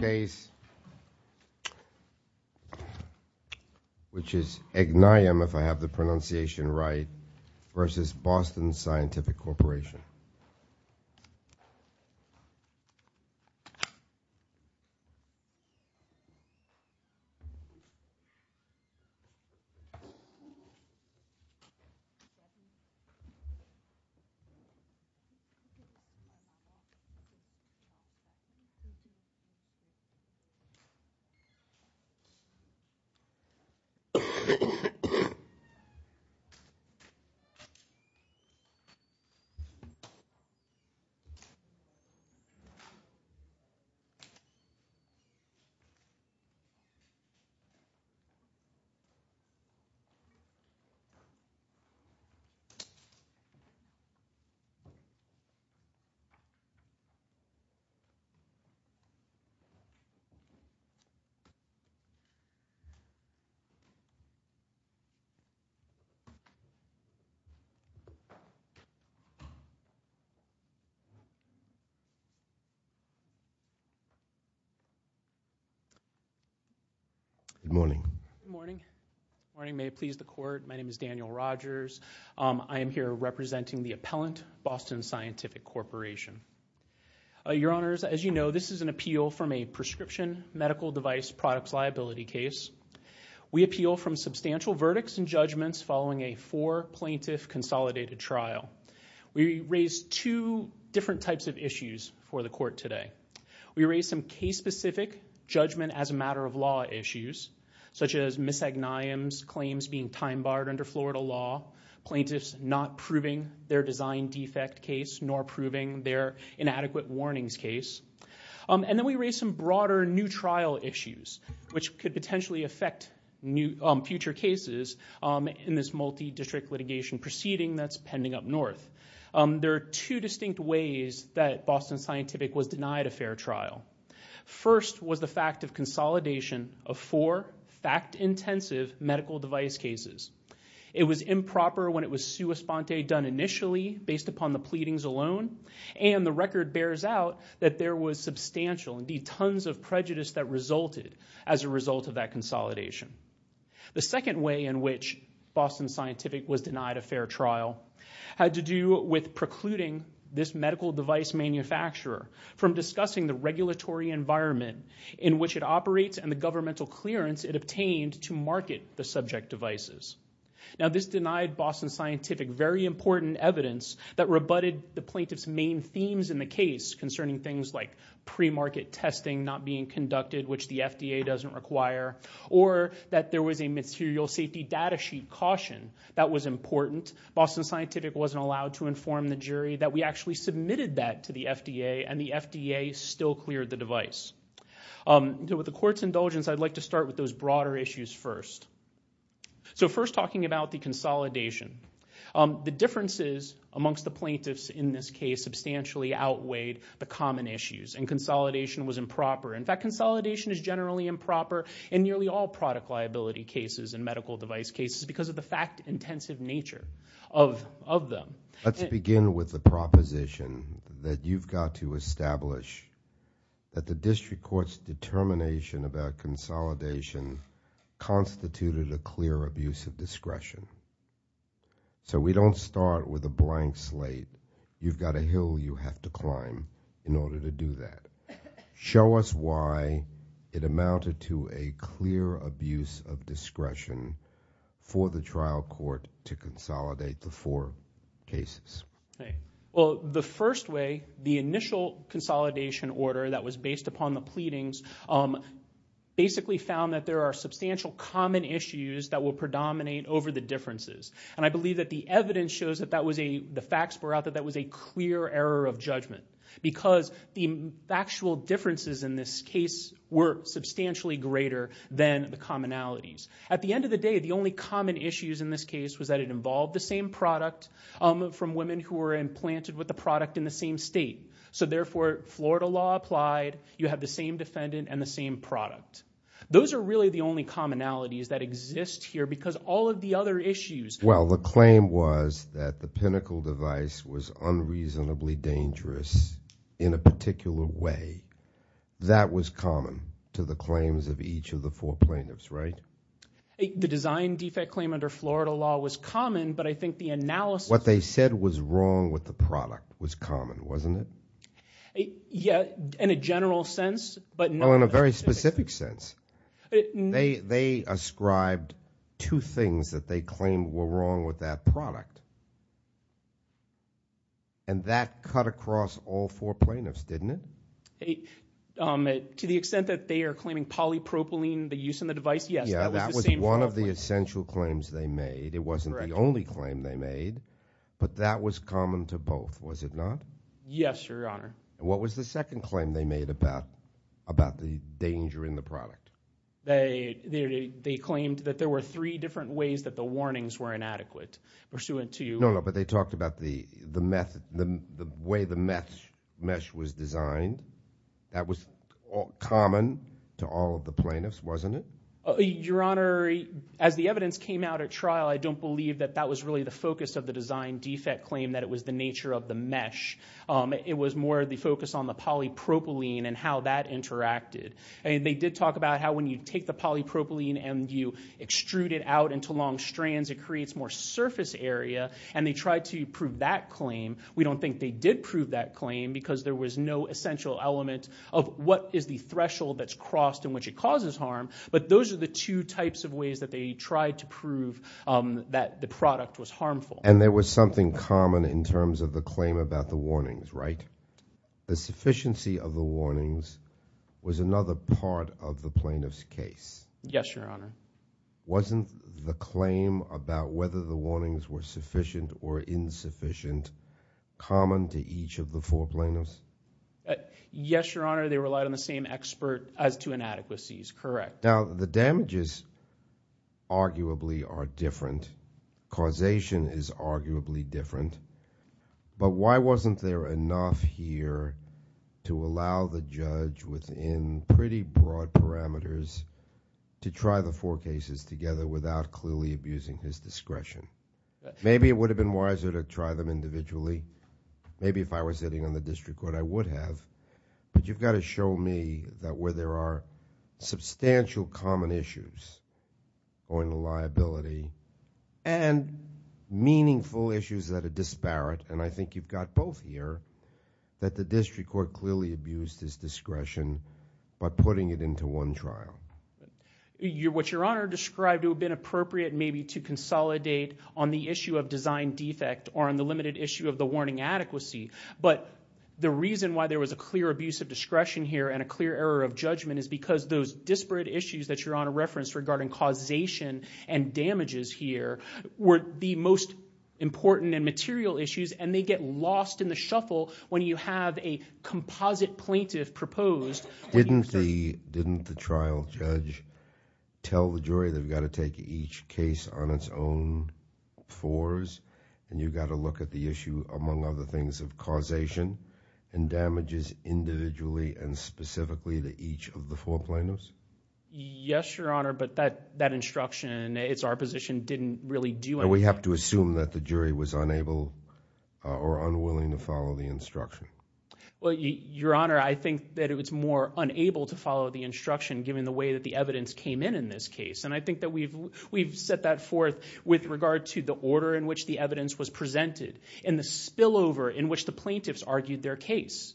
case which is Eghnayem, if I have the pronunciation right, versus Boston Scientific Corporation. Okay. Okay. Good morning. Good morning. Good morning. May it please the Court, my name is Daniel Rogers. I am here representing the appellant, Boston Scientific Corporation. Your Honors, as you know, this is an appeal from a prescription medical device products liability case. We appeal from substantial verdicts and judgments following a four plaintiff consolidated trial. We raised two different types of issues for the Court today. We raised some case specific judgment as a matter of law issues such as Ms. Eghnayem's claims being time barred under Florida law, plaintiffs not proving their design defect case nor proving their inadequate warnings case. And then we raised some broader new trial issues which could potentially affect future cases in this multi-district litigation proceeding that's pending up north. There are two distinct ways that Boston Scientific was denied a fair trial. First was the fact of consolidation of four fact intensive medical device cases. It was improper when it was sua sponte done initially based upon the pleadings alone and the record bears out that there was substantial, indeed tons of prejudice that resulted as a result of that consolidation. The second way in which Boston Scientific was denied a fair trial had to do with precluding this medical device manufacturer from discussing the regulatory environment in which it operates and the governmental clearance it obtained to market the subject devices. Now this denied Boston Scientific very important evidence that rebutted the plaintiff's main themes in the case concerning things like pre-market testing not being conducted which the FDA doesn't require or that there was a material safety data sheet caution that was important. Boston Scientific wasn't allowed to inform the jury that we actually submitted that to the FDA and the FDA still cleared the device. With the Court's indulgence, I'd like to start with those broader issues first. So first talking about the consolidation. The differences amongst the plaintiffs in this case substantially outweighed the common issues and consolidation was improper. In fact, consolidation is generally improper in nearly all product liability cases and medical device cases because of the fact intensive nature of them. Let's begin with the proposition that you've got to establish that the district court's determination about consolidation constituted a clear abuse of discretion. So we don't start with a blank slate. You've got a hill you have to climb in order to do that. Show us why it amounted to a clear abuse of discretion for the trial court to consolidate the four cases. Well, the first way, the initial consolidation order that was based upon the pleadings basically found that there are substantial common issues that will predominate over the differences. And I believe that the evidence shows that that was a clear error of judgment because the actual differences in this case were substantially greater than the commonalities. At the end of the day, the only common issues in this case was that it involved the same product from women who were implanted with the product in the same state. So therefore, Florida law applied. You have the same defendant and the same product. Those are really the only commonalities that exist here because all of the other issues. Well, the claim was that the Pinnacle device was unreasonably dangerous in a particular way. That was common to the claims of each of the four plaintiffs, right? The design defect claim under Florida law was common, but I think the analysis- What they said was wrong with the product was common, wasn't it? Yeah, in a general sense, but- Well, in a very specific sense. They ascribed two things that they claimed were wrong with that product, and that cut across all four plaintiffs, didn't it? To the extent that they are claiming polypropylene, the use in the device, yes, that was the same- Yeah, that was one of the essential claims they made. It wasn't the only claim they made, but that was common to both, was it not? Yes, Your Honor. What was the second claim they made about the danger in the product? They claimed that there were three different ways that the warnings were inadequate pursuant to- That was common to all of the plaintiffs, wasn't it? Your Honor, as the evidence came out at trial, I don't believe that that was really the focus of the design defect claim, that it was the nature of the mesh. It was more the focus on the polypropylene and how that interacted. They did talk about how when you take the polypropylene and you extrude it out into long strands, it creates more surface area, and they tried to prove that claim. We don't think they did prove that claim because there was no essential element of what is the threshold that's crossed in which it causes harm, but those are the two types of ways that they tried to prove that the product was harmful. And there was something common in terms of the claim about the warnings, right? The sufficiency of the warnings was another part of the plaintiff's case. Yes, Your Honor. Wasn't the claim about whether the warnings were sufficient or insufficient common to each of the four plaintiffs? Yes, Your Honor. They relied on the same expert as to inadequacies, correct. Now, the damages arguably are different. Causation is arguably different. But why wasn't there enough here to allow the judge within pretty broad parameters to try the four cases together without clearly abusing his discretion? Maybe it would have been wiser to try them individually. Maybe if I were sitting on the district court, I would have. But you've got to show me that where there are substantial common issues going to liability and meaningful issues that are disparate, and I think you've got both here, that the district court clearly abused his discretion by putting it into one trial. What Your Honor described would have been appropriate maybe to consolidate on the issue of design defect or on the limited issue of the warning adequacy. But the reason why there was a clear abuse of discretion here and a clear error of judgment is because those disparate issues that Your Honor referenced regarding causation and damages here were the most important and material issues, and they get lost in the shuffle when you have a composite plaintiff proposed. Didn't the trial judge tell the jury they've got to take each case on its own fours and you've got to look at the issue, among other things, of causation and damages individually and specifically to each of the four plaintiffs? Yes, Your Honor, but that instruction, it's our position, didn't really do anything. Do we have to assume that the jury was unable or unwilling to follow the instruction? Well, Your Honor, I think that it was more unable to follow the instruction given the way that the evidence came in in this case, and I think that we've set that forth with regard to the order in which the evidence was presented and the spillover in which the plaintiffs argued their case.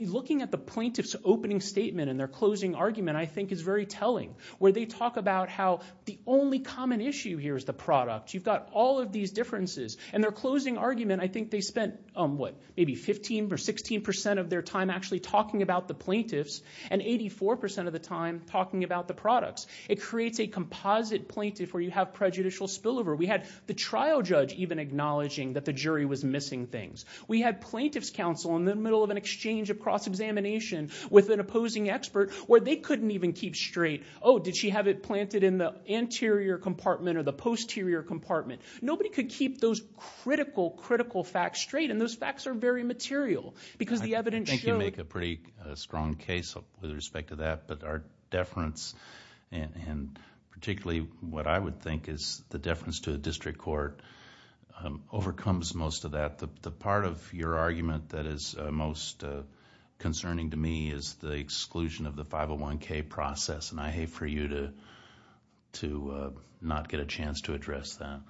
Looking at the plaintiff's opening statement and their closing argument, I think, is very telling, where they talk about how the only common issue here is the product. You've got all of these differences, and their closing argument, I think they spent maybe 15% or 16% of their time actually talking about the plaintiffs and 84% of the time talking about the products. It creates a composite plaintiff where you have prejudicial spillover. We had the trial judge even acknowledging that the jury was missing things. We had plaintiff's counsel in the middle of an exchange of cross-examination with an opposing expert where they couldn't even keep straight, oh, did she have it planted in the anterior compartment or the posterior compartment? Nobody could keep those critical, critical facts straight, and those facts are very material because the evidence showed... I think you make a pretty strong case with respect to that, but our deference and particularly what I would think is the deference to a district court overcomes most of that. The part of your argument that is most concerning to me is the exclusion of the 501K process, and I hate for you to not get a chance to address that.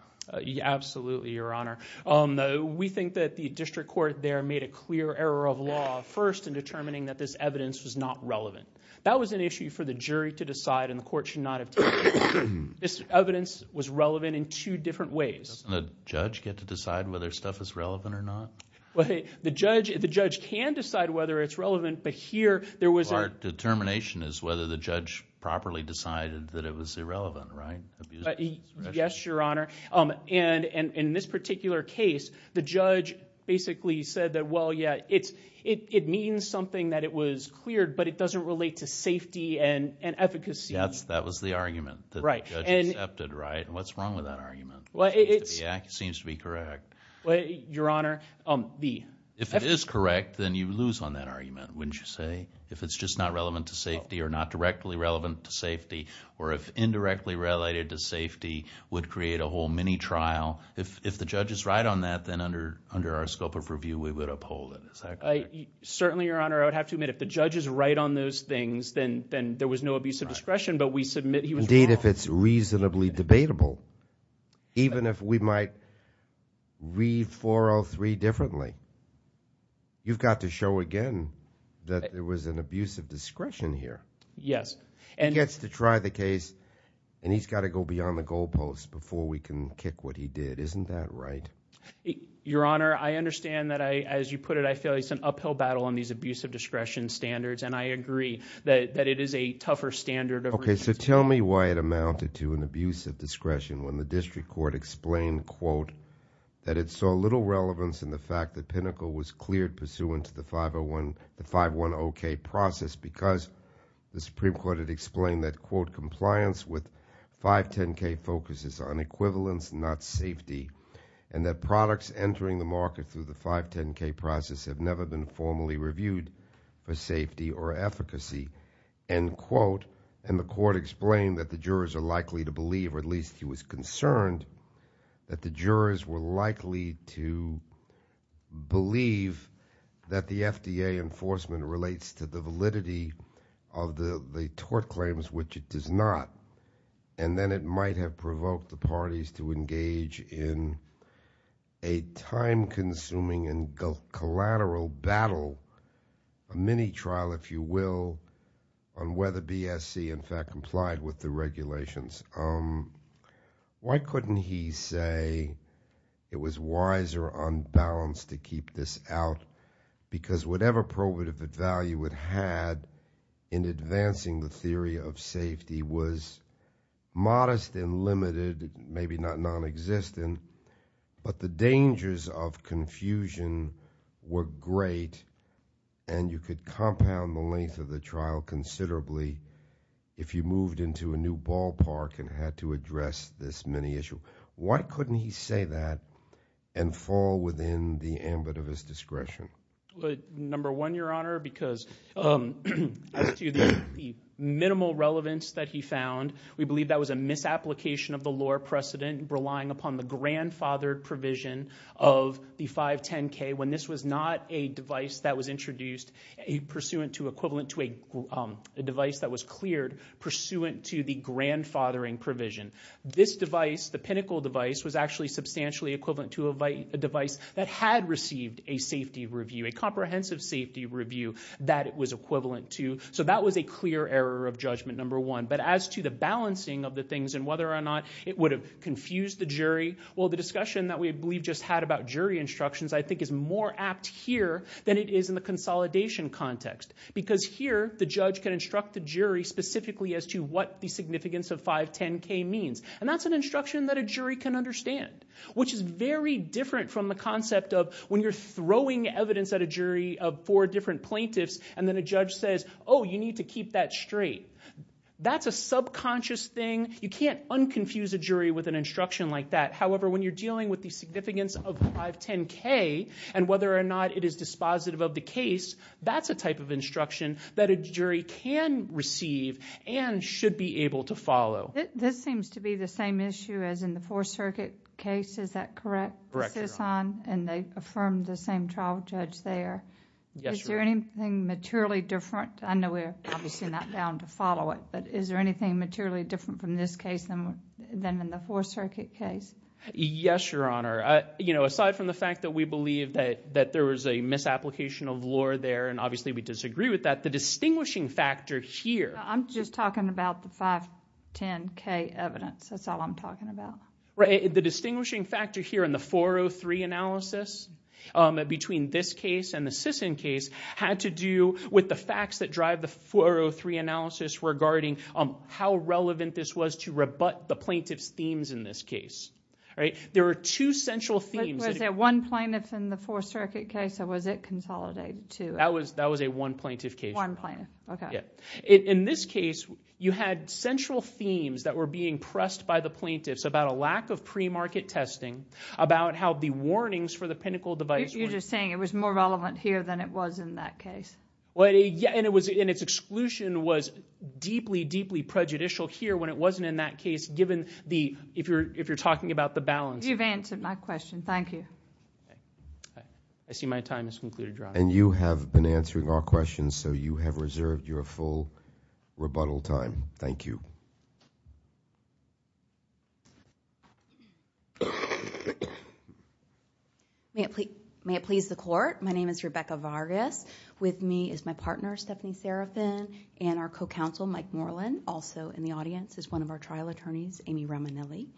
Absolutely, Your Honor. We think that the district court there made a clear error of law first in determining that this evidence was not relevant. That was an issue for the jury to decide, and the court should not have taken it. This evidence was relevant in two different ways. Doesn't the judge get to decide whether stuff is relevant or not? The judge can decide whether it's relevant, but here there was... Our determination is whether the judge properly decided that it was irrelevant, right? Yes, Your Honor. And in this particular case, the judge basically said that, well, yeah, it means something that it was cleared, but it doesn't relate to safety and efficacy. That was the argument that the judge accepted, right? What's wrong with that argument? It seems to be correct. Your Honor... If it is correct, then you lose on that argument, wouldn't you say? If it's just not relevant to safety or not directly relevant to safety or if indirectly related to safety would create a whole mini trial. If the judge is right on that, then under our scope of review, we would uphold it. Is that correct? Certainly, Your Honor. I would have to admit if the judge is right on those things, then there was no abuse of discretion, but we submit he was wrong. Indeed, if it's reasonably debatable, even if we might read 403 differently, you've got to show again that there was an abuse of discretion here. Yes. He gets to try the case, and he's got to go beyond the goalposts before we can kick what he did. Isn't that right? Your Honor, I understand that, as you put it, I feel it's an uphill battle on these abuse of discretion standards, and I agree that it is a tougher standard of... Okay, so tell me why it amounted to an abuse of discretion when the district court explained, quote, that it saw little relevance in the fact that Pinnacle was cleared pursuant to the 510K process because the Supreme Court had explained that, quote, compliance with 510K focuses on equivalence, not safety, and that products entering the market through the 510K process have never been formally reviewed for safety or efficacy, end quote, and the court explained that the jurors are likely to believe, or at least he was concerned that the jurors were likely to believe that the FDA enforcement relates to the validity of the tort claims, which it does not, and then it might have provoked the parties to engage in a time-consuming and collateral battle, a mini trial, if you will, on whether BSC, in fact, complied with the regulations. Why couldn't he say it was wiser on balance to keep this out? Because whatever probative value it had in advancing the theory of safety was modest and limited, maybe not nonexistent, but the dangers of confusion were great, and you could compound the length of the trial considerably if you moved into a new ballpark and had to address this mini issue. Why couldn't he say that and fall within the ambit of his discretion? Number one, Your Honor, because as to the minimal relevance that he found, we believe that was a misapplication of the law precedent relying upon the grandfathered provision of the 510K when this was not a device that was introduced pursuant to equivalent to a device that was cleared pursuant to the grandfathering provision. This device, the pinnacle device, was actually substantially equivalent to a device that had received a safety review, a comprehensive safety review that it was equivalent to, so that was a clear error of judgment, number one. But as to the balancing of the things and whether or not it would have confused the jury, well, the discussion that we believe just had about jury instructions, I think, is more apt here than it is in the consolidation context, because here the judge can instruct the jury specifically as to what the significance of 510K means, and that's an instruction that a jury can understand, which is very different from the concept of when you're throwing evidence at a jury of four different plaintiffs, and then a judge says, oh, you need to keep that straight. That's a subconscious thing. You can't unconfuse a jury with an instruction like that. However, when you're dealing with the significance of 510K and whether or not it is dispositive of the case, that's a type of instruction that a jury can receive and should be able to follow. This seems to be the same issue as in the Fourth Circuit case. Is that correct? Correct, Your Honor. And they affirmed the same trial judge there. Yes, Your Honor. Is there anything materially different? I know we're obviously not bound to follow it, but is there anything materially different from this case than in the Fourth Circuit case? Yes, Your Honor. Aside from the fact that we believe that there was a misapplication of lore there, and obviously we disagree with that, the distinguishing factor here I'm just talking about the 510K evidence. That's all I'm talking about. The distinguishing factor here in the 403 analysis between this case and the Sisson case had to do with the facts that drive the 403 analysis regarding how relevant this was to rebut the plaintiff's themes in this case. There were two central themes. Was there one plaintiff in the Fourth Circuit case or was it consolidated to it? That was a one plaintiff case, Your Honor. One plaintiff, okay. In this case, you had central themes that were being pressed by the plaintiffs about a lack of pre-market testing, about how the warnings for the pinnacle device... You're just saying it was more relevant here than it was in that case. And its exclusion was deeply, deeply prejudicial here when it wasn't in that case, if you're talking about the balance. You've answered my question. Thank you. I see my time has concluded, Your Honor. And you have been answering our questions, so you have reserved your full rebuttal time. Thank you. May it please the Court. My name is Rebecca Vargas. With me is my partner, Stephanie Serafin, and our co-counsel, Mike Moreland. Also in the audience is one of our trial attorneys, Amy Romanilli.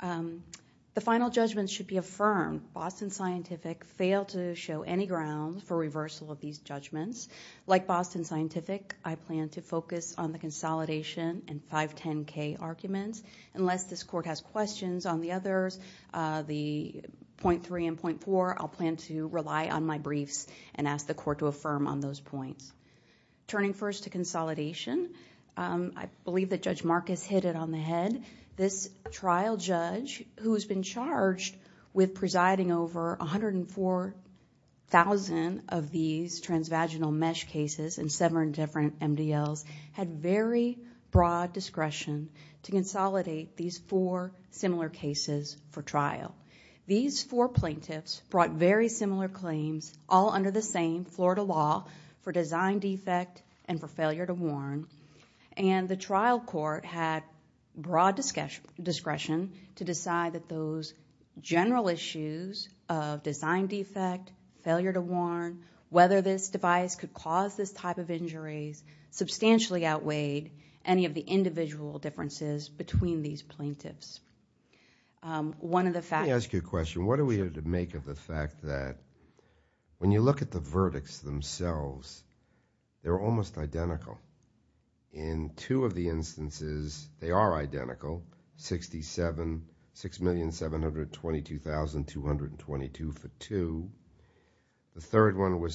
The final judgment should be affirmed. Boston Scientific failed to show any ground for reversal of these judgments. Like Boston Scientific, I plan to focus on the consolidation and 510K arguments. Unless this Court has questions on the others, the .3 and .4, I'll plan to rely on my briefs and ask the Court to affirm on those points. Turning first to consolidation, I believe that Judge Marcus hit it on the head. This trial judge who has been charged with presiding over 104,000 of these transvaginal mesh cases in seven different MDLs had very broad discretion to consolidate these four similar cases for trial. These four plaintiffs brought very similar claims all under the same Florida law for design defect and for failure to warn. And the trial court had broad discretion to decide that those general issues of design defect, failure to warn, whether this device could cause this type of injuries substantially outweighed any of the individual differences between these plaintiffs. Let me ask you a question. What are we to make of the fact that when you look at the verdicts themselves, they're almost identical. In two of the instances, they are identical. 67,000,722,222 for two. The third one was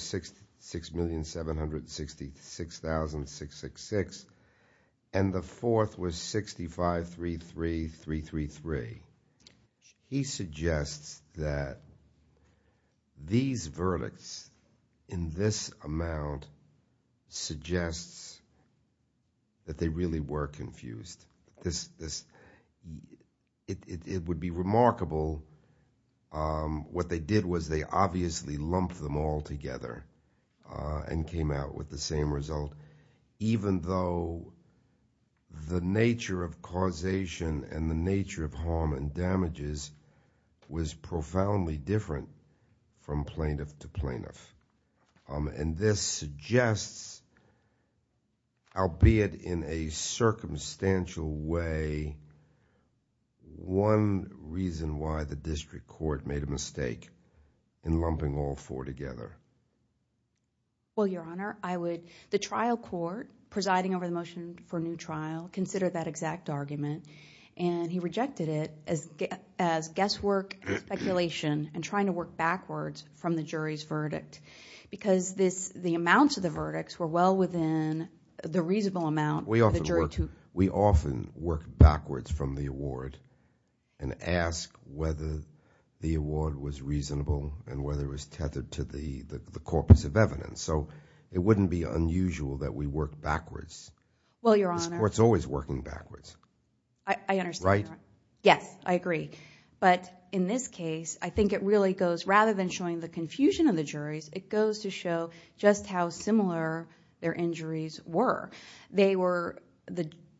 6,766,666. And the fourth was 65,33,333. He suggests that these verdicts in this amount suggests that they really were confused. This... It would be remarkable. What they did was they obviously lumped them all together and came out with the same result, even though the nature of causation and the nature of harm and damages was profoundly different from plaintiff to plaintiff. And this suggests, albeit in a circumstantial way, one reason why the district court made a mistake in lumping all four together. Well, Your Honor, I would... The trial court presiding over the motion for a new trial considered that exact argument, and he rejected it as guesswork and speculation and trying to work backwards from the jury's verdict because the amounts of the verdicts were well within the reasonable amount for the jury to... We often work backwards from the award and ask whether the award was reasonable and whether it was tethered to the corpus of evidence. So it wouldn't be unusual that we work backwards. Well, Your Honor... This court's always working backwards. I understand, Your Honor. Right? Yes, I agree. But in this case, I think it really goes... Rather than showing the confusion of the juries, it goes to show just how similar their injuries were. They were...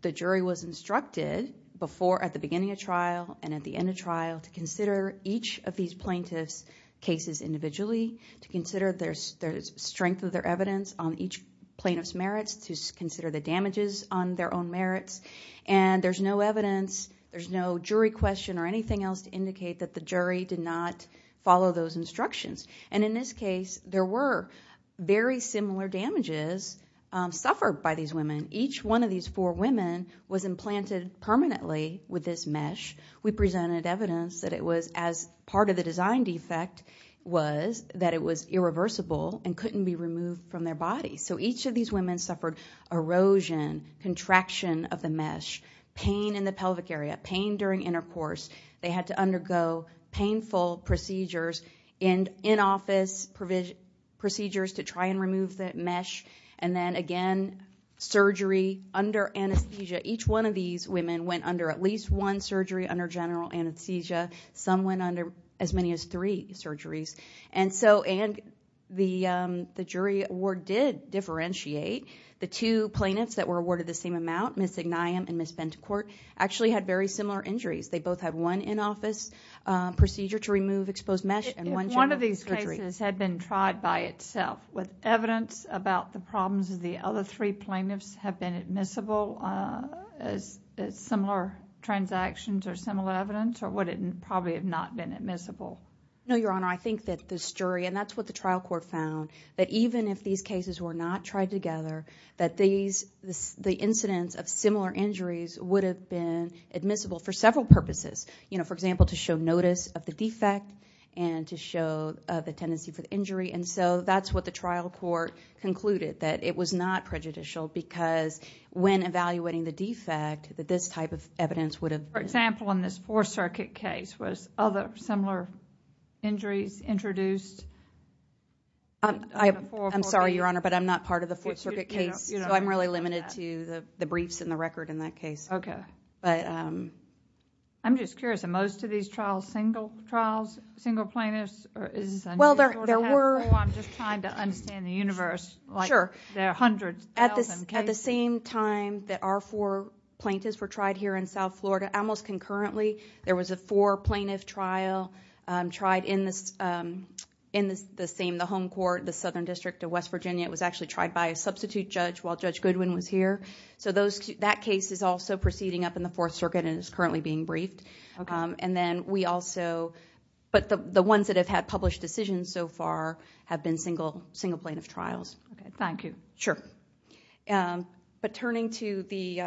The jury was instructed before, at the beginning of trial and at the end of trial, to consider each of these plaintiffs' cases individually, to consider the strength of their evidence on each plaintiff's merits, to consider the damages on their own merits. And there's no evidence, there's no jury question or anything else to indicate that the jury did not follow those instructions. And in this case, there were very similar damages suffered by these women. Each one of these four women was implanted permanently with this mesh. We presented evidence that it was, as part of the design defect was, that it was irreversible and couldn't be removed from their bodies. So each of these women suffered erosion, contraction of the mesh, pain in the pelvic area, pain during intercourse. They had to undergo painful procedures and in-office procedures to try and remove that mesh. And then, again, surgery under anesthesia. Each one of these women went under at least one surgery, under general anesthesia. Some went under as many as three surgeries. And so, and the jury award did differentiate. The two plaintiffs that were awarded the same amount, Ms. Ignayem and Ms. Bentecourt, actually had very similar injuries. They both had one in-office procedure to remove exposed mesh and one general anesthesia. If one of these cases had been tried by itself with evidence about the problems of the other three plaintiffs have been admissible as similar transactions or similar evidence, or would it probably have not been admissible? No, Your Honor. I think that this jury, and that's what the trial court found, that even if these cases were not tried together, that the incidents of similar injuries would have been admissible for several purposes. For example, to show notice of the defect and to show the tendency for the injury. And so that's what the trial court concluded, that it was not prejudicial because when evaluating the defect, that this type of evidence would have been... For example, in this Fourth Circuit case, was other similar injuries introduced? I'm sorry, Your Honor, but I'm not part of the Fourth Circuit case, so I'm really limited to the briefs and the record in that case. Okay. But... I'm just curious, are most of these trials single plaintiffs? Well, there were... I'm just trying to understand the universe. Sure. There are hundreds of them. At the same time that our four plaintiffs were tried here in South Florida, almost concurrently, there was a four-plaintiff trial tried in the home court, the Southern District of West Virginia. It was actually tried by a substitute judge while Judge Goodwin was here. So that case is also proceeding up in the Fourth Circuit and is currently being briefed. And then we also... But the ones that have had published decisions so far have been single plaintiff trials. Okay. Thank you. Sure. But turning to the...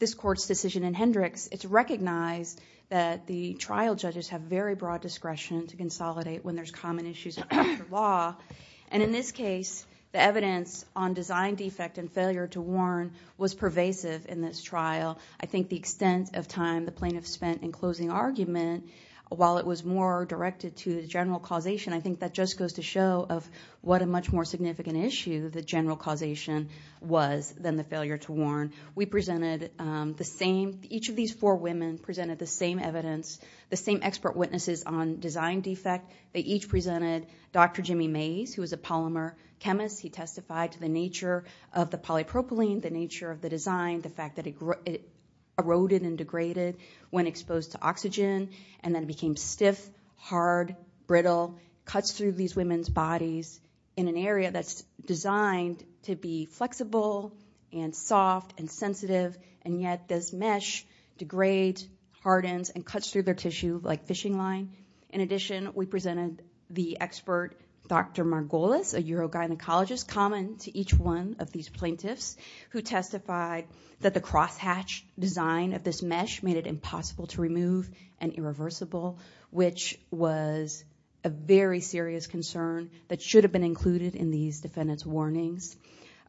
this Court's decision in Hendricks, it's recognized that the trial judges have very broad discretion to consolidate when there's common issues in court or law. And in this case, the evidence on design defect and failure to warn was pervasive in this trial. I think the extent of time the plaintiffs spent in closing argument, while it was more directed to the general causation, I think that just goes to show of what a much more significant issue the general causation was than the failure to warn. We presented the same... Each of these four women presented the same evidence, the same expert witnesses on design defect. They each presented Dr. Jimmy Mays, who was a polymer chemist. He testified to the nature of the polypropylene, the nature of the design, the fact that it eroded and degraded when exposed to oxygen, and then became stiff, hard, brittle, cuts through these women's bodies in an area that's designed to be flexible and soft and sensitive, and yet this mesh degrades, hardens, and cuts through their tissue like fishing line. In addition, we presented the expert Dr. Margolis, a urogynecologist, common to each one of these plaintiffs, who testified that the crosshatch design of this mesh made it impossible to remove and irreversible, which was a very serious concern that should have been included in these defendant's warnings.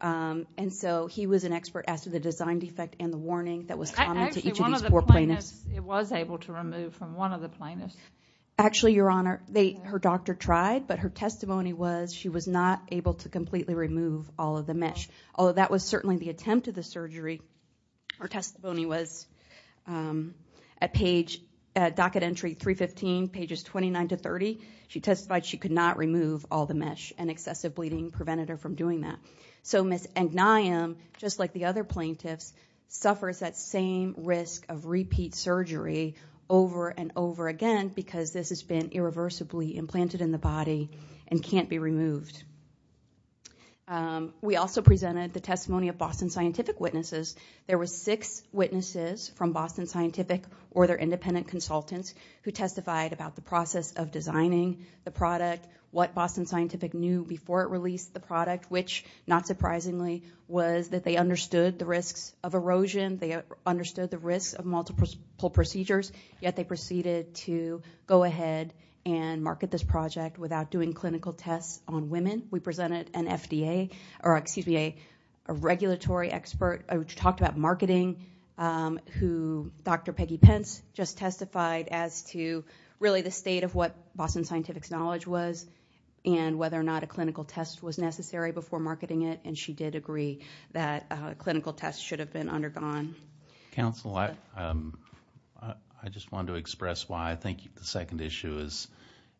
And so he was an expert as to the design defect and the warning that was common to each of these four plaintiffs. Actually, one of the plaintiffs, it was able to remove from one of the plaintiffs. Actually, Your Honor, her doctor tried, but her testimony was she was not able to completely remove all of the mesh, although that was certainly the attempt of the surgery. Her testimony was at page, at docket entry 315, pages 29 to 30. She testified she could not remove all the mesh, and excessive bleeding prevented her from doing that. So Ms. Agneim, just like the other plaintiffs, suffers that same risk of repeat surgery over and over again because this has been irreversibly implanted in the body and can't be removed. We also presented the testimony of Boston Scientific Witnesses. There were six witnesses from Boston Scientific or their independent consultants who testified about the process of designing the product, what Boston Scientific knew before it released the product, which, not surprisingly, was that they understood the risks of erosion, they understood the risks of multiple procedures, yet they proceeded to go ahead and market this project without doing clinical tests on women. We presented an FDA, or excuse me, a regulatory expert, who talked about marketing, who Dr. Peggy Pence just testified as to really the state of what Boston Scientific's knowledge was and whether or not a clinical test was necessary before marketing it, and she did agree that clinical tests should have been undergone. Counsel, I just wanted to express why I think the second issue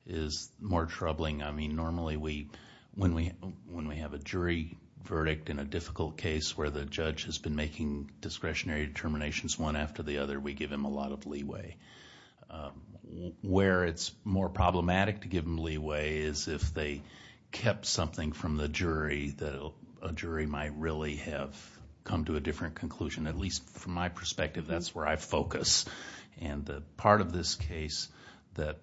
is more troubling. I mean, normally when we have a jury verdict in a difficult case where the judge has been making discretionary determinations one after the other, we give them a lot of leeway. Where it's more problematic to give them leeway is if they kept something from the jury that a jury might really have come to a different conclusion. At least from my perspective, that's where I focus. And the part of this case that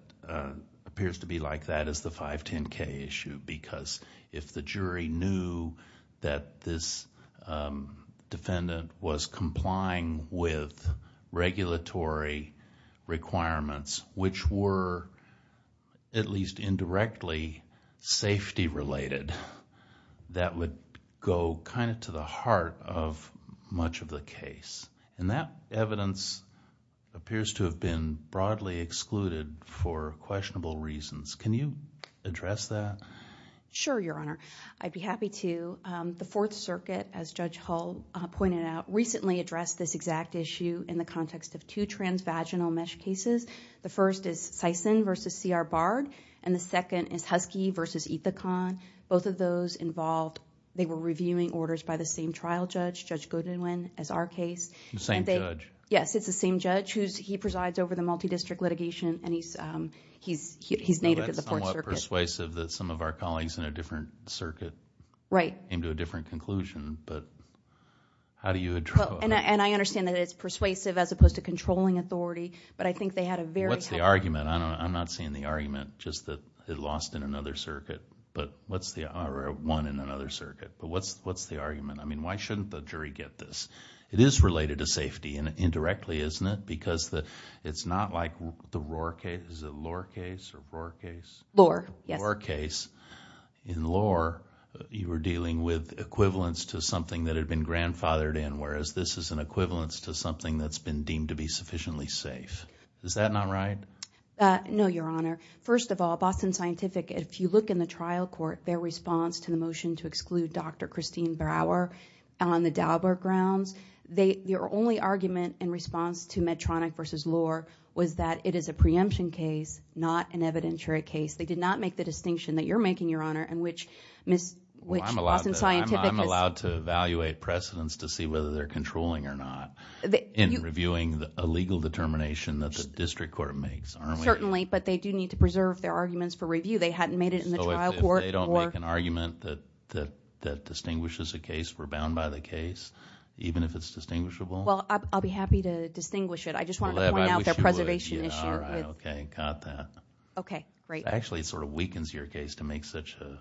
appears to be like that is the 510K issue because if the jury knew that this defendant was complying with regulatory requirements, which were at least indirectly safety-related, that would go kind of to the heart of much of the case. And that evidence appears to have been broadly excluded for questionable reasons. Can you address that? Sure, Your Honor. I'd be happy to. The Fourth Circuit, as Judge Hull pointed out, recently addressed this exact issue in the context of two transvaginal mesh cases. The first is Sison v. C.R. Bard, and the second is Husky v. Ethicon. Both of those involved, they were reviewing orders by the same trial judge, Judge Goodwin, as our case. The same judge? Yes, it's the same judge. He presides over the multi-district litigation, and he's native to the Fourth Circuit. That's somewhat persuasive that some of our colleagues in a different circuit came to a different conclusion, but how do you address that? And I understand that it's persuasive as opposed to controlling authority, but I think they had a very heavy... What's the argument? I'm not seeing the argument just that it lost in another circuit, or won in another circuit, but what's the argument? I mean, why shouldn't the jury get this? It is related to safety indirectly, isn't it? Because it's not like the Rohr case. Is it Lohr case or Rohr case? Lohr, yes. Lohr case. In Lohr, you were dealing with equivalence to something that had been grandfathered in, whereas this is an equivalence to something that's been deemed to be sufficiently safe. Is that not right? No, Your Honor. First of all, Boston Scientific, if you look in the trial court, their response to the motion to exclude Dr. Christine Brower on the Dauber grounds, their only argument in response to Medtronic v. Lohr was that it is a preemption case, not an evidentiary case. They did not make the distinction that you're making, Your Honor, in which Boston Scientific... Well, I'm allowed to evaluate precedents to see whether they're controlling or not in reviewing a legal determination that the district court makes, aren't we? Certainly, but they do need to preserve their arguments for review. They hadn't made it in the trial court. So if they don't make an argument that distinguishes a case, we're bound by the case, even if it's distinguishable? Well, I'll be happy to distinguish it. I just wanted to point out their preservation issue. All right, okay, got that. Okay, great. Actually, it sort of weakens your case to make such a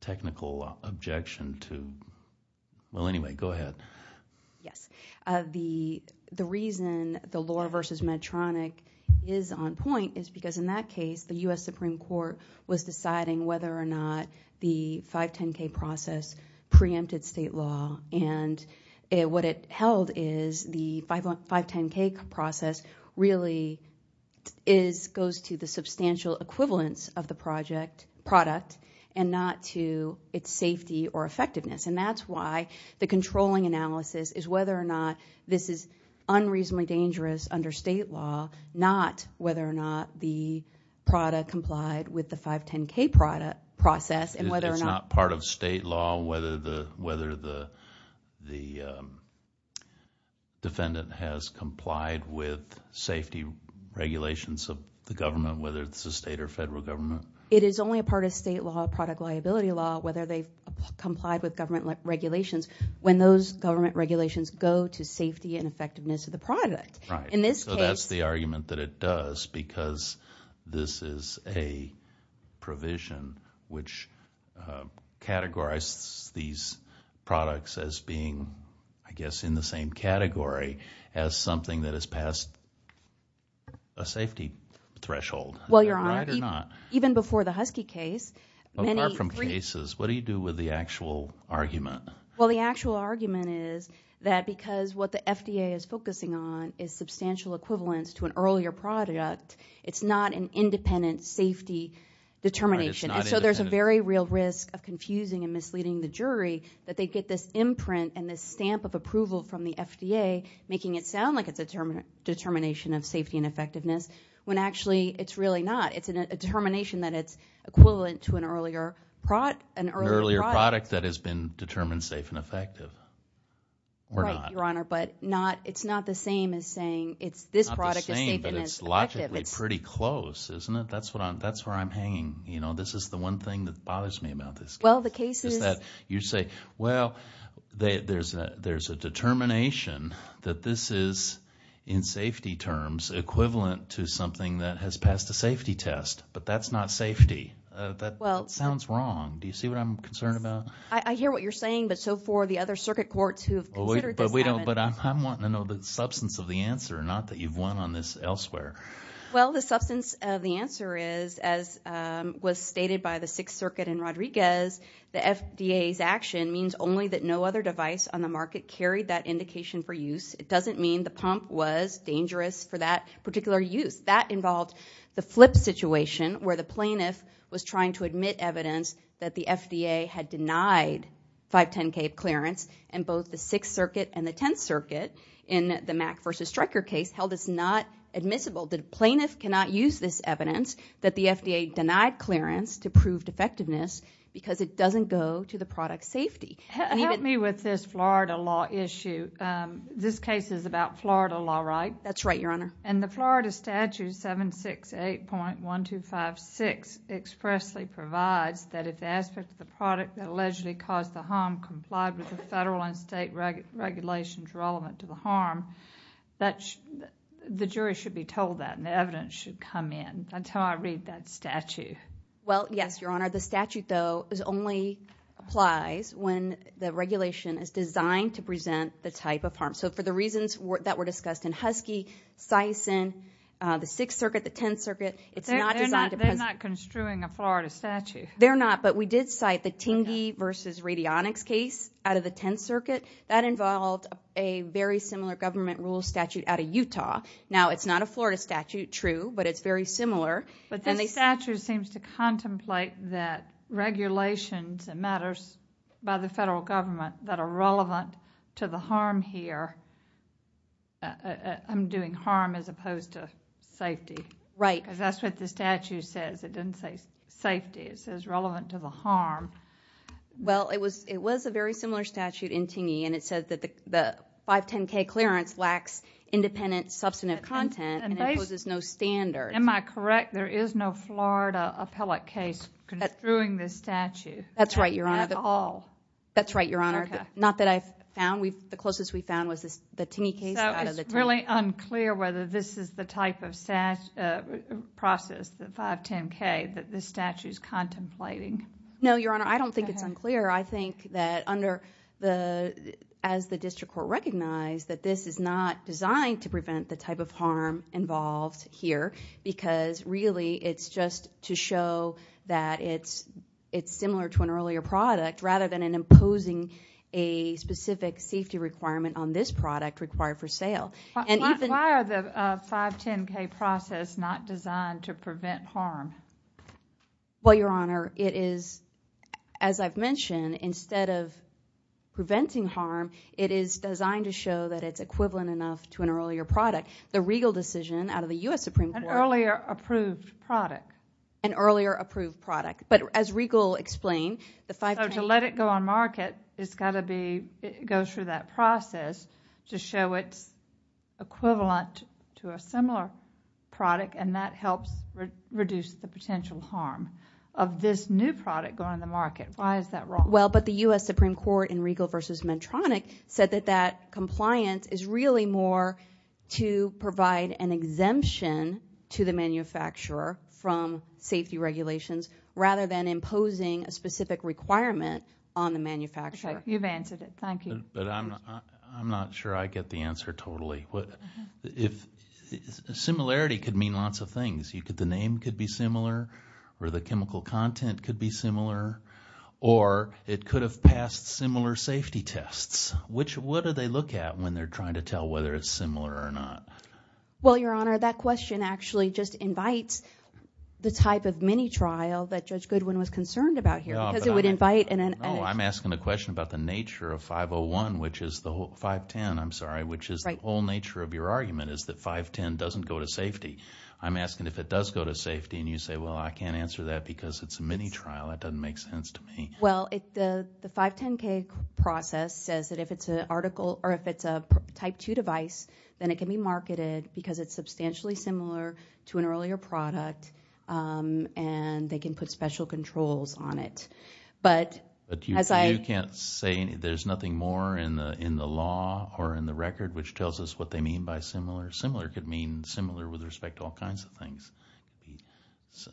technical objection to... Well, anyway, go ahead. Yes. The reason the Lohr v. Medtronic is on point is because in that case, the U.S. Supreme Court was deciding whether or not the 510K process preempted state law and what it held is the 510K process really goes to the substantial equivalence of the product and not to its safety or effectiveness. And that's why the controlling analysis is whether or not this is unreasonably dangerous under state law, not whether or not the product complied with the 510K process and whether or not... It's not part of state law whether the defendant has complied with safety regulations of the government, whether it's the state or federal government. It is only a part of state law, product liability law, whether they've complied with government regulations when those government regulations go to safety and effectiveness of the product. Right. In this case... So that's the argument that it does because this is a provision which categorizes these products as being, I guess, in the same category as something that has passed a safety threshold. Well, Your Honor, even before the Husky case... Apart from cases, what do you do with the actual argument? Well, the actual argument is that because what the FDA is focusing on is substantial equivalence to an earlier product, it's not an independent safety determination and so there's a very real risk of confusing and misleading the jury that they get this imprint and this stamp of approval from the FDA making it sound like it's a determination of safety and effectiveness when actually it's really not. It's a determination that it's equivalent to an earlier product. An earlier product that has been determined safe and effective or not. Right, Your Honor, but it's not the same as saying this product is safe and effective. It's not the same, but it's logically pretty close, isn't it? That's where I'm hanging. You know, this is the one thing that bothers me about this case. Well, the case is... Is that you say, well, there's a determination that this is in safety terms equivalent to something that has passed a safety test, but that's not safety. That sounds wrong. Do you see what I'm concerned about? I hear what you're saying, but so far the other circuit courts who have considered this haven't. But I'm wanting to know the substance of the answer, not that you've won on this elsewhere. Well, the substance of the answer is as was stated by the Sixth Circuit in Rodriguez, the FDA's action means only that no other device on the market carried that indication for use. It doesn't mean the pump was dangerous for that particular use. That involved the flip situation where the plaintiff was trying to admit evidence that the FDA had denied 510K clearance, and both the Sixth Circuit and the Tenth Circuit in the Mack v. Stryker case held as not admissible. The plaintiff cannot use this evidence that the FDA denied clearance to prove defectiveness because it doesn't go to the product's safety. Help me with this Florida law issue. This case is about Florida law, right? That's right, Your Honor. And the Florida statute 768.1256 expressly provides that if the aspect of the product that allegedly caused the harm complied with the federal and state regulations relevant to the harm, the jury should be told that and the evidence should come in. That's how I read that statute. Well, yes, Your Honor. The statute, though, only applies when the regulation is designed to present the type of harm. So for the reasons that were discussed in Husky, Sison, the Sixth Circuit, the Tenth Circuit, it's not designed to present... They're not construing a Florida statute. They're not, but we did cite the Tingey v. Radionics case out of the Tenth Circuit. That involved a very similar government rule statute out of Utah. Now, it's not a Florida statute, true, but it's very similar. But this statute seems to contemplate that regulations and matters by the federal government that are relevant to the harm here are doing harm as opposed to safety. Right. Because that's what the statute says. It doesn't say safety. It says relevant to the harm. Well, it was a very similar statute in Tingey, and it said that the 510K clearance lacks independent substantive content and imposes no standards. Am I correct? There is no Florida appellate case construing this statute? That's right, Your Honor. At all? That's right, Your Honor. Not that I've found. The closest we found was the Tingey case out of the Tenth. So it's really unclear whether this is the type of process, the 510K, that this statute's contemplating. No, Your Honor, I don't think it's unclear. I think that as the district court recognized that this is not designed to prevent the type of harm involved here because really it's just to show that it's similar to an earlier product rather than imposing a specific safety requirement on this product required for sale. Why are the 510K process not designed to prevent harm? Well, Your Honor, it is, as I've mentioned, instead of preventing harm, it is designed to show that it's equivalent enough to an earlier product. The Regal decision out of the U.S. Supreme Court... An earlier approved product. An earlier approved product. But as Regal explained, the 510K... So to let it go on market, it's got to go through that process to show it's equivalent to a similar product and that helps reduce the potential harm of this new product going on the market. Why is that wrong? Well, but the U.S. Supreme Court in Regal v. Medtronic said that that compliance is really more to provide an exemption to the manufacturer from safety regulations rather than imposing a specific requirement on the manufacturer. Okay, you've answered it. Thank you. But I'm not sure I get the answer totally. If...similarity could mean lots of things. The name could be similar or the chemical content could be similar or it could have passed similar safety tests. What do they look at when they're trying to tell whether it's similar or not? Well, Your Honor, that question actually just invites the type of mini-trial that Judge Goodwin was concerned about here because it would invite... No, I'm asking a question about the nature of 501, which is the 510, I'm sorry, which is the whole nature of your argument is that 510 doesn't go to safety. I'm asking if it does go to safety and you say, well, I can't answer that because it's a mini-trial. That doesn't make sense to me. Well, the 510k process says that if it's an article or if it's a type 2 device, then it can be marketed because it's substantially similar to an earlier product and they can put special controls on it. But as I... But you can't say there's nothing more in the law or in the record which tells us what they mean by similar. Similar could mean similar with respect to all kinds of things.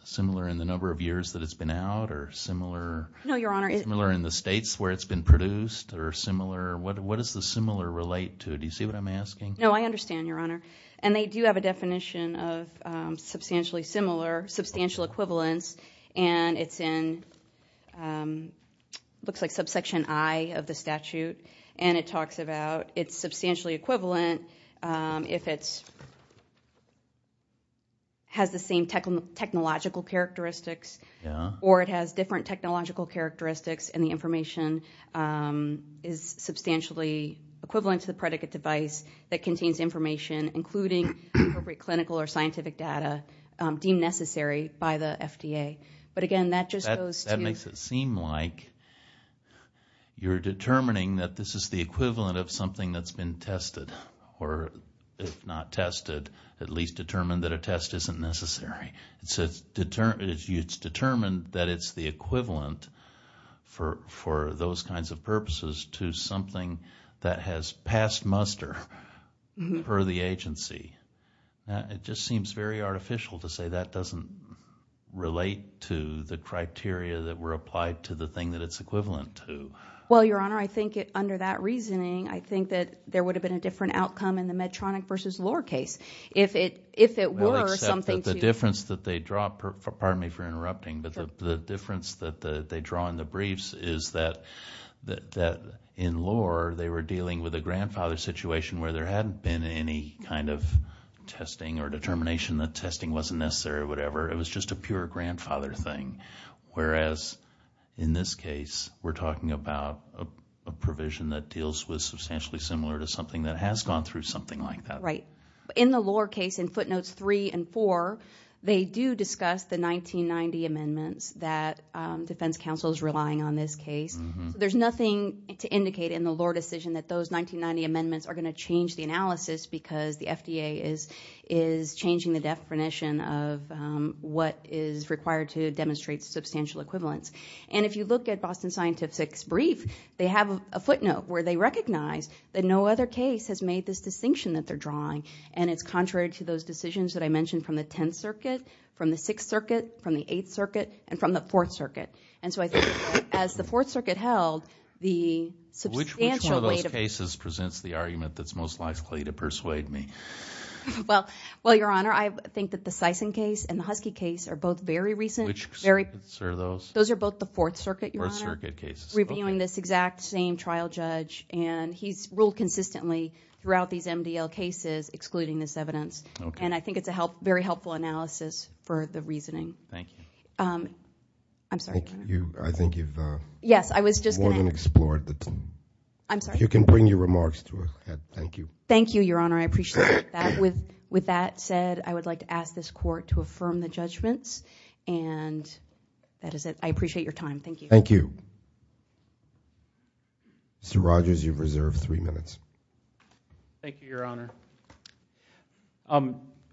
Similar in the number of years that it's been out or similar... No, Your Honor... Similar in the states where it's been produced or similar... What does the similar relate to? Do you see what I'm asking? No, I understand, Your Honor. And they do have a definition of substantially similar, substantial equivalence, and it's in... Looks like subsection I of the statute and it talks about it's substantially equivalent if it's... has the same technological characteristics or it has different technological characteristics and the information is substantially equivalent to the predicate device that contains information including appropriate clinical or scientific data deemed necessary by the FDA. But again, that just goes to... That makes it seem like you're determining that this is the equivalent of something that's been tested or if not tested, at least determined that a test isn't necessary. It's determined that it's the equivalent for those kinds of purposes to something that has passed muster per the agency. It just seems very artificial to say that doesn't relate to the criteria that were applied to the thing that it's equivalent to. Well, Your Honor, I think under that reasoning, I think that there would have been a different outcome in the Medtronic versus Lohr case if it were something to... The difference that they draw... Pardon me for interrupting, but the difference that they draw in the briefs is that in Lohr, they were dealing with a grandfather situation where there hadn't been any kind of testing or determination that testing wasn't necessary or whatever. It was just a pure grandfather thing. Whereas in this case, we're talking about a provision that deals with substantially similar to something that has gone through something like that. Right. In the Lohr case in footnotes three and four, they do discuss the 1990 amendments that defense counsel is relying on this case. There's nothing to indicate in the Lohr decision that those 1990 amendments are going to change the analysis because the FDA is changing the definition of what is required to demonstrate substantial equivalence. And if you look at Boston Scientific's brief, they have a footnote where they recognize that no other case has made this distinction that they're drawing. And it's contrary to those decisions that I mentioned from the 10th Circuit, from the 6th Circuit, from the 8th Circuit, and from the 4th Circuit. And so I think as the 4th Circuit held, the substantial weight of... Which one of those cases presents the argument that's most likely to persuade me? Well, Your Honor, I think that the Sison case and the Husky case are both very recent. Which circuits are those? Those are both the 4th Circuit, Your Honor. 4th Circuit cases. Reviewing this exact same trial judge. And he's ruled consistently throughout these MDL cases excluding this evidence. And I think it's a very helpful analysis for the reasoning. Thank you. I'm sorry. I think you've... Yes, I was just going to... More than explored the... I'm sorry? If you can bring your remarks to a head, thank you. Thank you, Your Honor. I appreciate that. With that said, I would like to ask this Court to affirm the judgments. And that is it. I appreciate your time. Thank you. Thank you. Mr. Rogers, you've reserved three minutes. Thank you, Your Honor.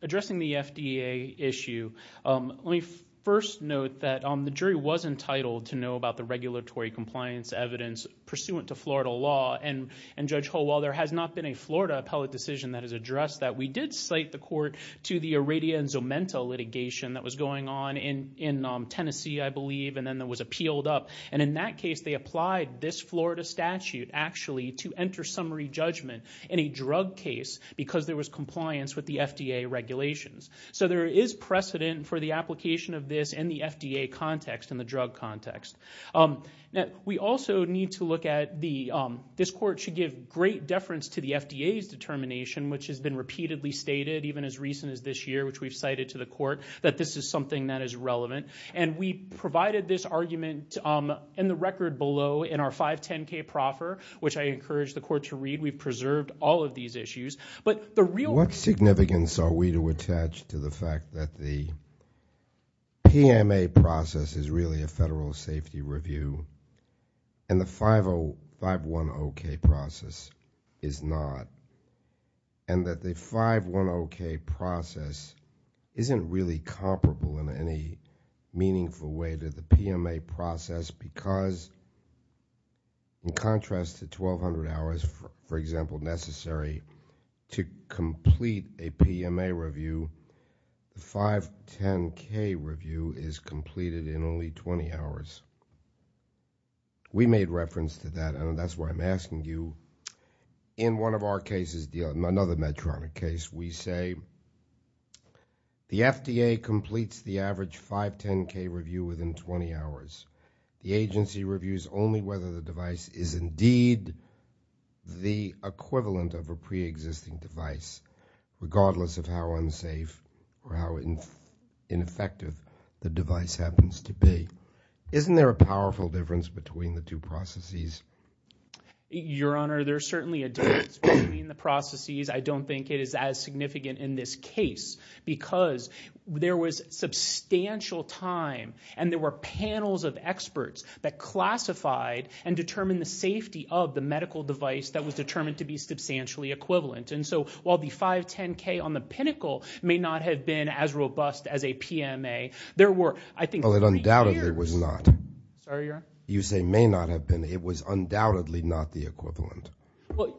Addressing the FDA issue, let me first note that the jury was entitled to know about the regulatory compliance evidence pursuant to Florida law. And Judge Holwell, there has not been a Florida appellate decision that has addressed that. We did cite the court to the Aradia and Zomenta litigation that was going on in Tennessee, I believe. And then it was appealed up. And in that case, they applied this Florida statute, actually, to enter summary judgment in a drug case because there was compliance with the FDA regulations. So there is precedent for the application of this in the FDA context, in the drug context. We also need to look at the... This Court should give great deference to the FDA's determination, which has been repeatedly stated, even as recent as this year, which we've cited to the Court, that this is something that is relevant. And we provided this argument in the record below in our 510k proffer, which I encourage the Court to read. I think we've preserved all of these issues. But the real... What significance are we to attach to the fact that the PMA process is really a federal safety review and the 510k process is not? And that the 510k process isn't really comparable in any meaningful way to the PMA process because, in contrast to 1,200 hours, for example, necessary to complete a PMA review, the 510k review is completed in only 20 hours. We made reference to that, and that's why I'm asking you. In one of our cases, another Medtronic case, we say the FDA completes the average 510k review within 20 hours. The agency reviews only whether the device is indeed the equivalent of a preexisting device, regardless of how unsafe or how ineffective the device happens to be. Isn't there a powerful difference between the two processes? Your Honor, there's certainly a difference between the processes. I don't think it is as significant in this case because there was substantial time and there were panels of experts that classified and determined the safety of the medical device that was determined to be substantially equivalent, and so while the 510k on the pinnacle may not have been as robust as a PMA, there were, I think, three years. Well, it undoubtedly was not. Sorry, Your Honor? You say may not have been. It was undoubtedly not the equivalent. Well,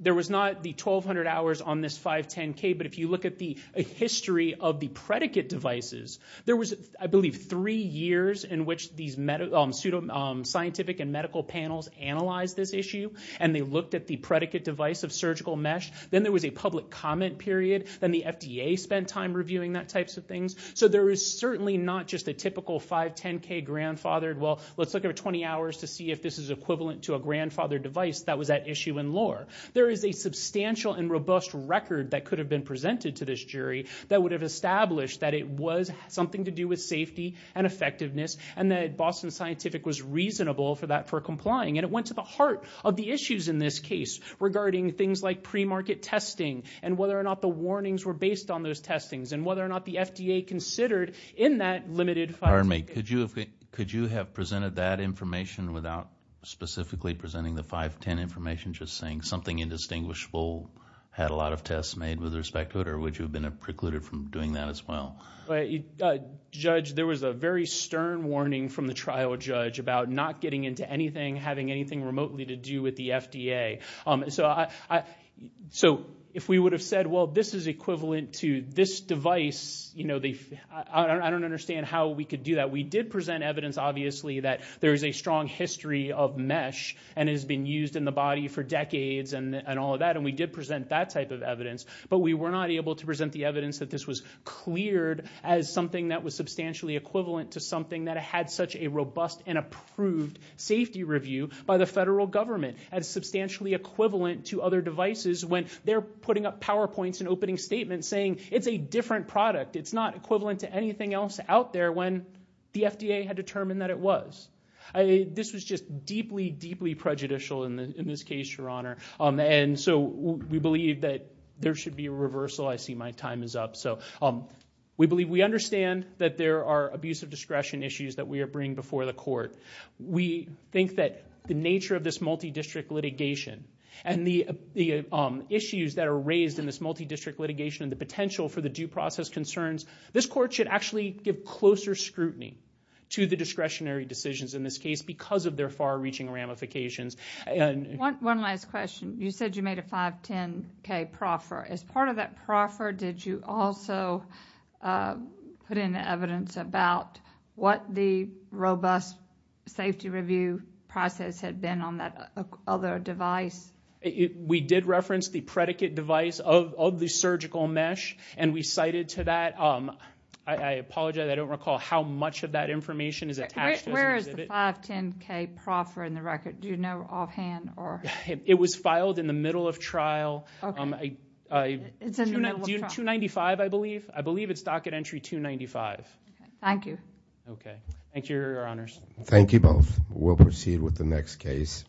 there was not the 1,200 hours on this 510k, but if you look at the history of the predicate devices, there was, I believe, three years in which these pseudoscientific and medical panels analyzed this issue and they looked at the predicate device of surgical mesh. Then there was a public comment period. Then the FDA spent time reviewing that types of things. So there is certainly not just a typical 510k grandfathered, well, let's look at 20 hours to see if this is equivalent to a grandfathered device that was at issue in lore. There is a substantial and robust record that could have been presented to this jury that would have established that it was something to do with safety and effectiveness and that Boston Scientific was reasonable for that, for complying, and it went to the heart of the issues in this case regarding things like pre-market testing and whether or not the warnings were based on those testings and whether or not the FDA considered in that limited 510k. Pardon me. Could you have presented that information without specifically presenting the 510 information, just saying something indistinguishable had a lot of tests made with respect to it, or would you have been precluded from doing that as well? Judge, there was a very stern warning from the trial judge about not getting into anything, having anything remotely to do with the FDA. So if we would have said, well, this is equivalent to this device, I don't understand how we could do that. We did present evidence, obviously, that there is a strong history of mesh and has been used in the body for decades and all of that, and we did present that type of evidence, but we were not able to present the evidence that this was cleared as something that was substantially equivalent to something that had such a robust and approved safety review by the federal government as substantially equivalent to other devices when they're putting up PowerPoints and opening statements saying it's a different product, it's not equivalent to anything else out there when the FDA had determined that it was. This was just deeply, deeply prejudicial in this case, Your Honor. And so we believe that there should be a reversal. I see my time is up. So we believe we understand that there are abuse of discretion issues that we are bringing before the court. We think that the nature of this multidistrict litigation and the issues that are raised in this multidistrict litigation and the potential for the due process concerns, this court should actually give closer scrutiny to the discretionary decisions in this case because of their far-reaching ramifications. One last question. You said you made a 510K proffer. As part of that proffer, did you also put in evidence about what the robust safety review process had been on that other device? We did reference the predicate device of the surgical mesh, and we cited to that. I apologize, I don't recall how much of that information is attached as an exhibit. 510K proffer in the record. Do you know offhand or...? It was filed in the middle of trial. Okay. It's in the middle of trial. 295, I believe. I believe it's docket entry 295. Thank you. Okay. Thank you, Your Honors. Thank you both. We'll proceed with the next case.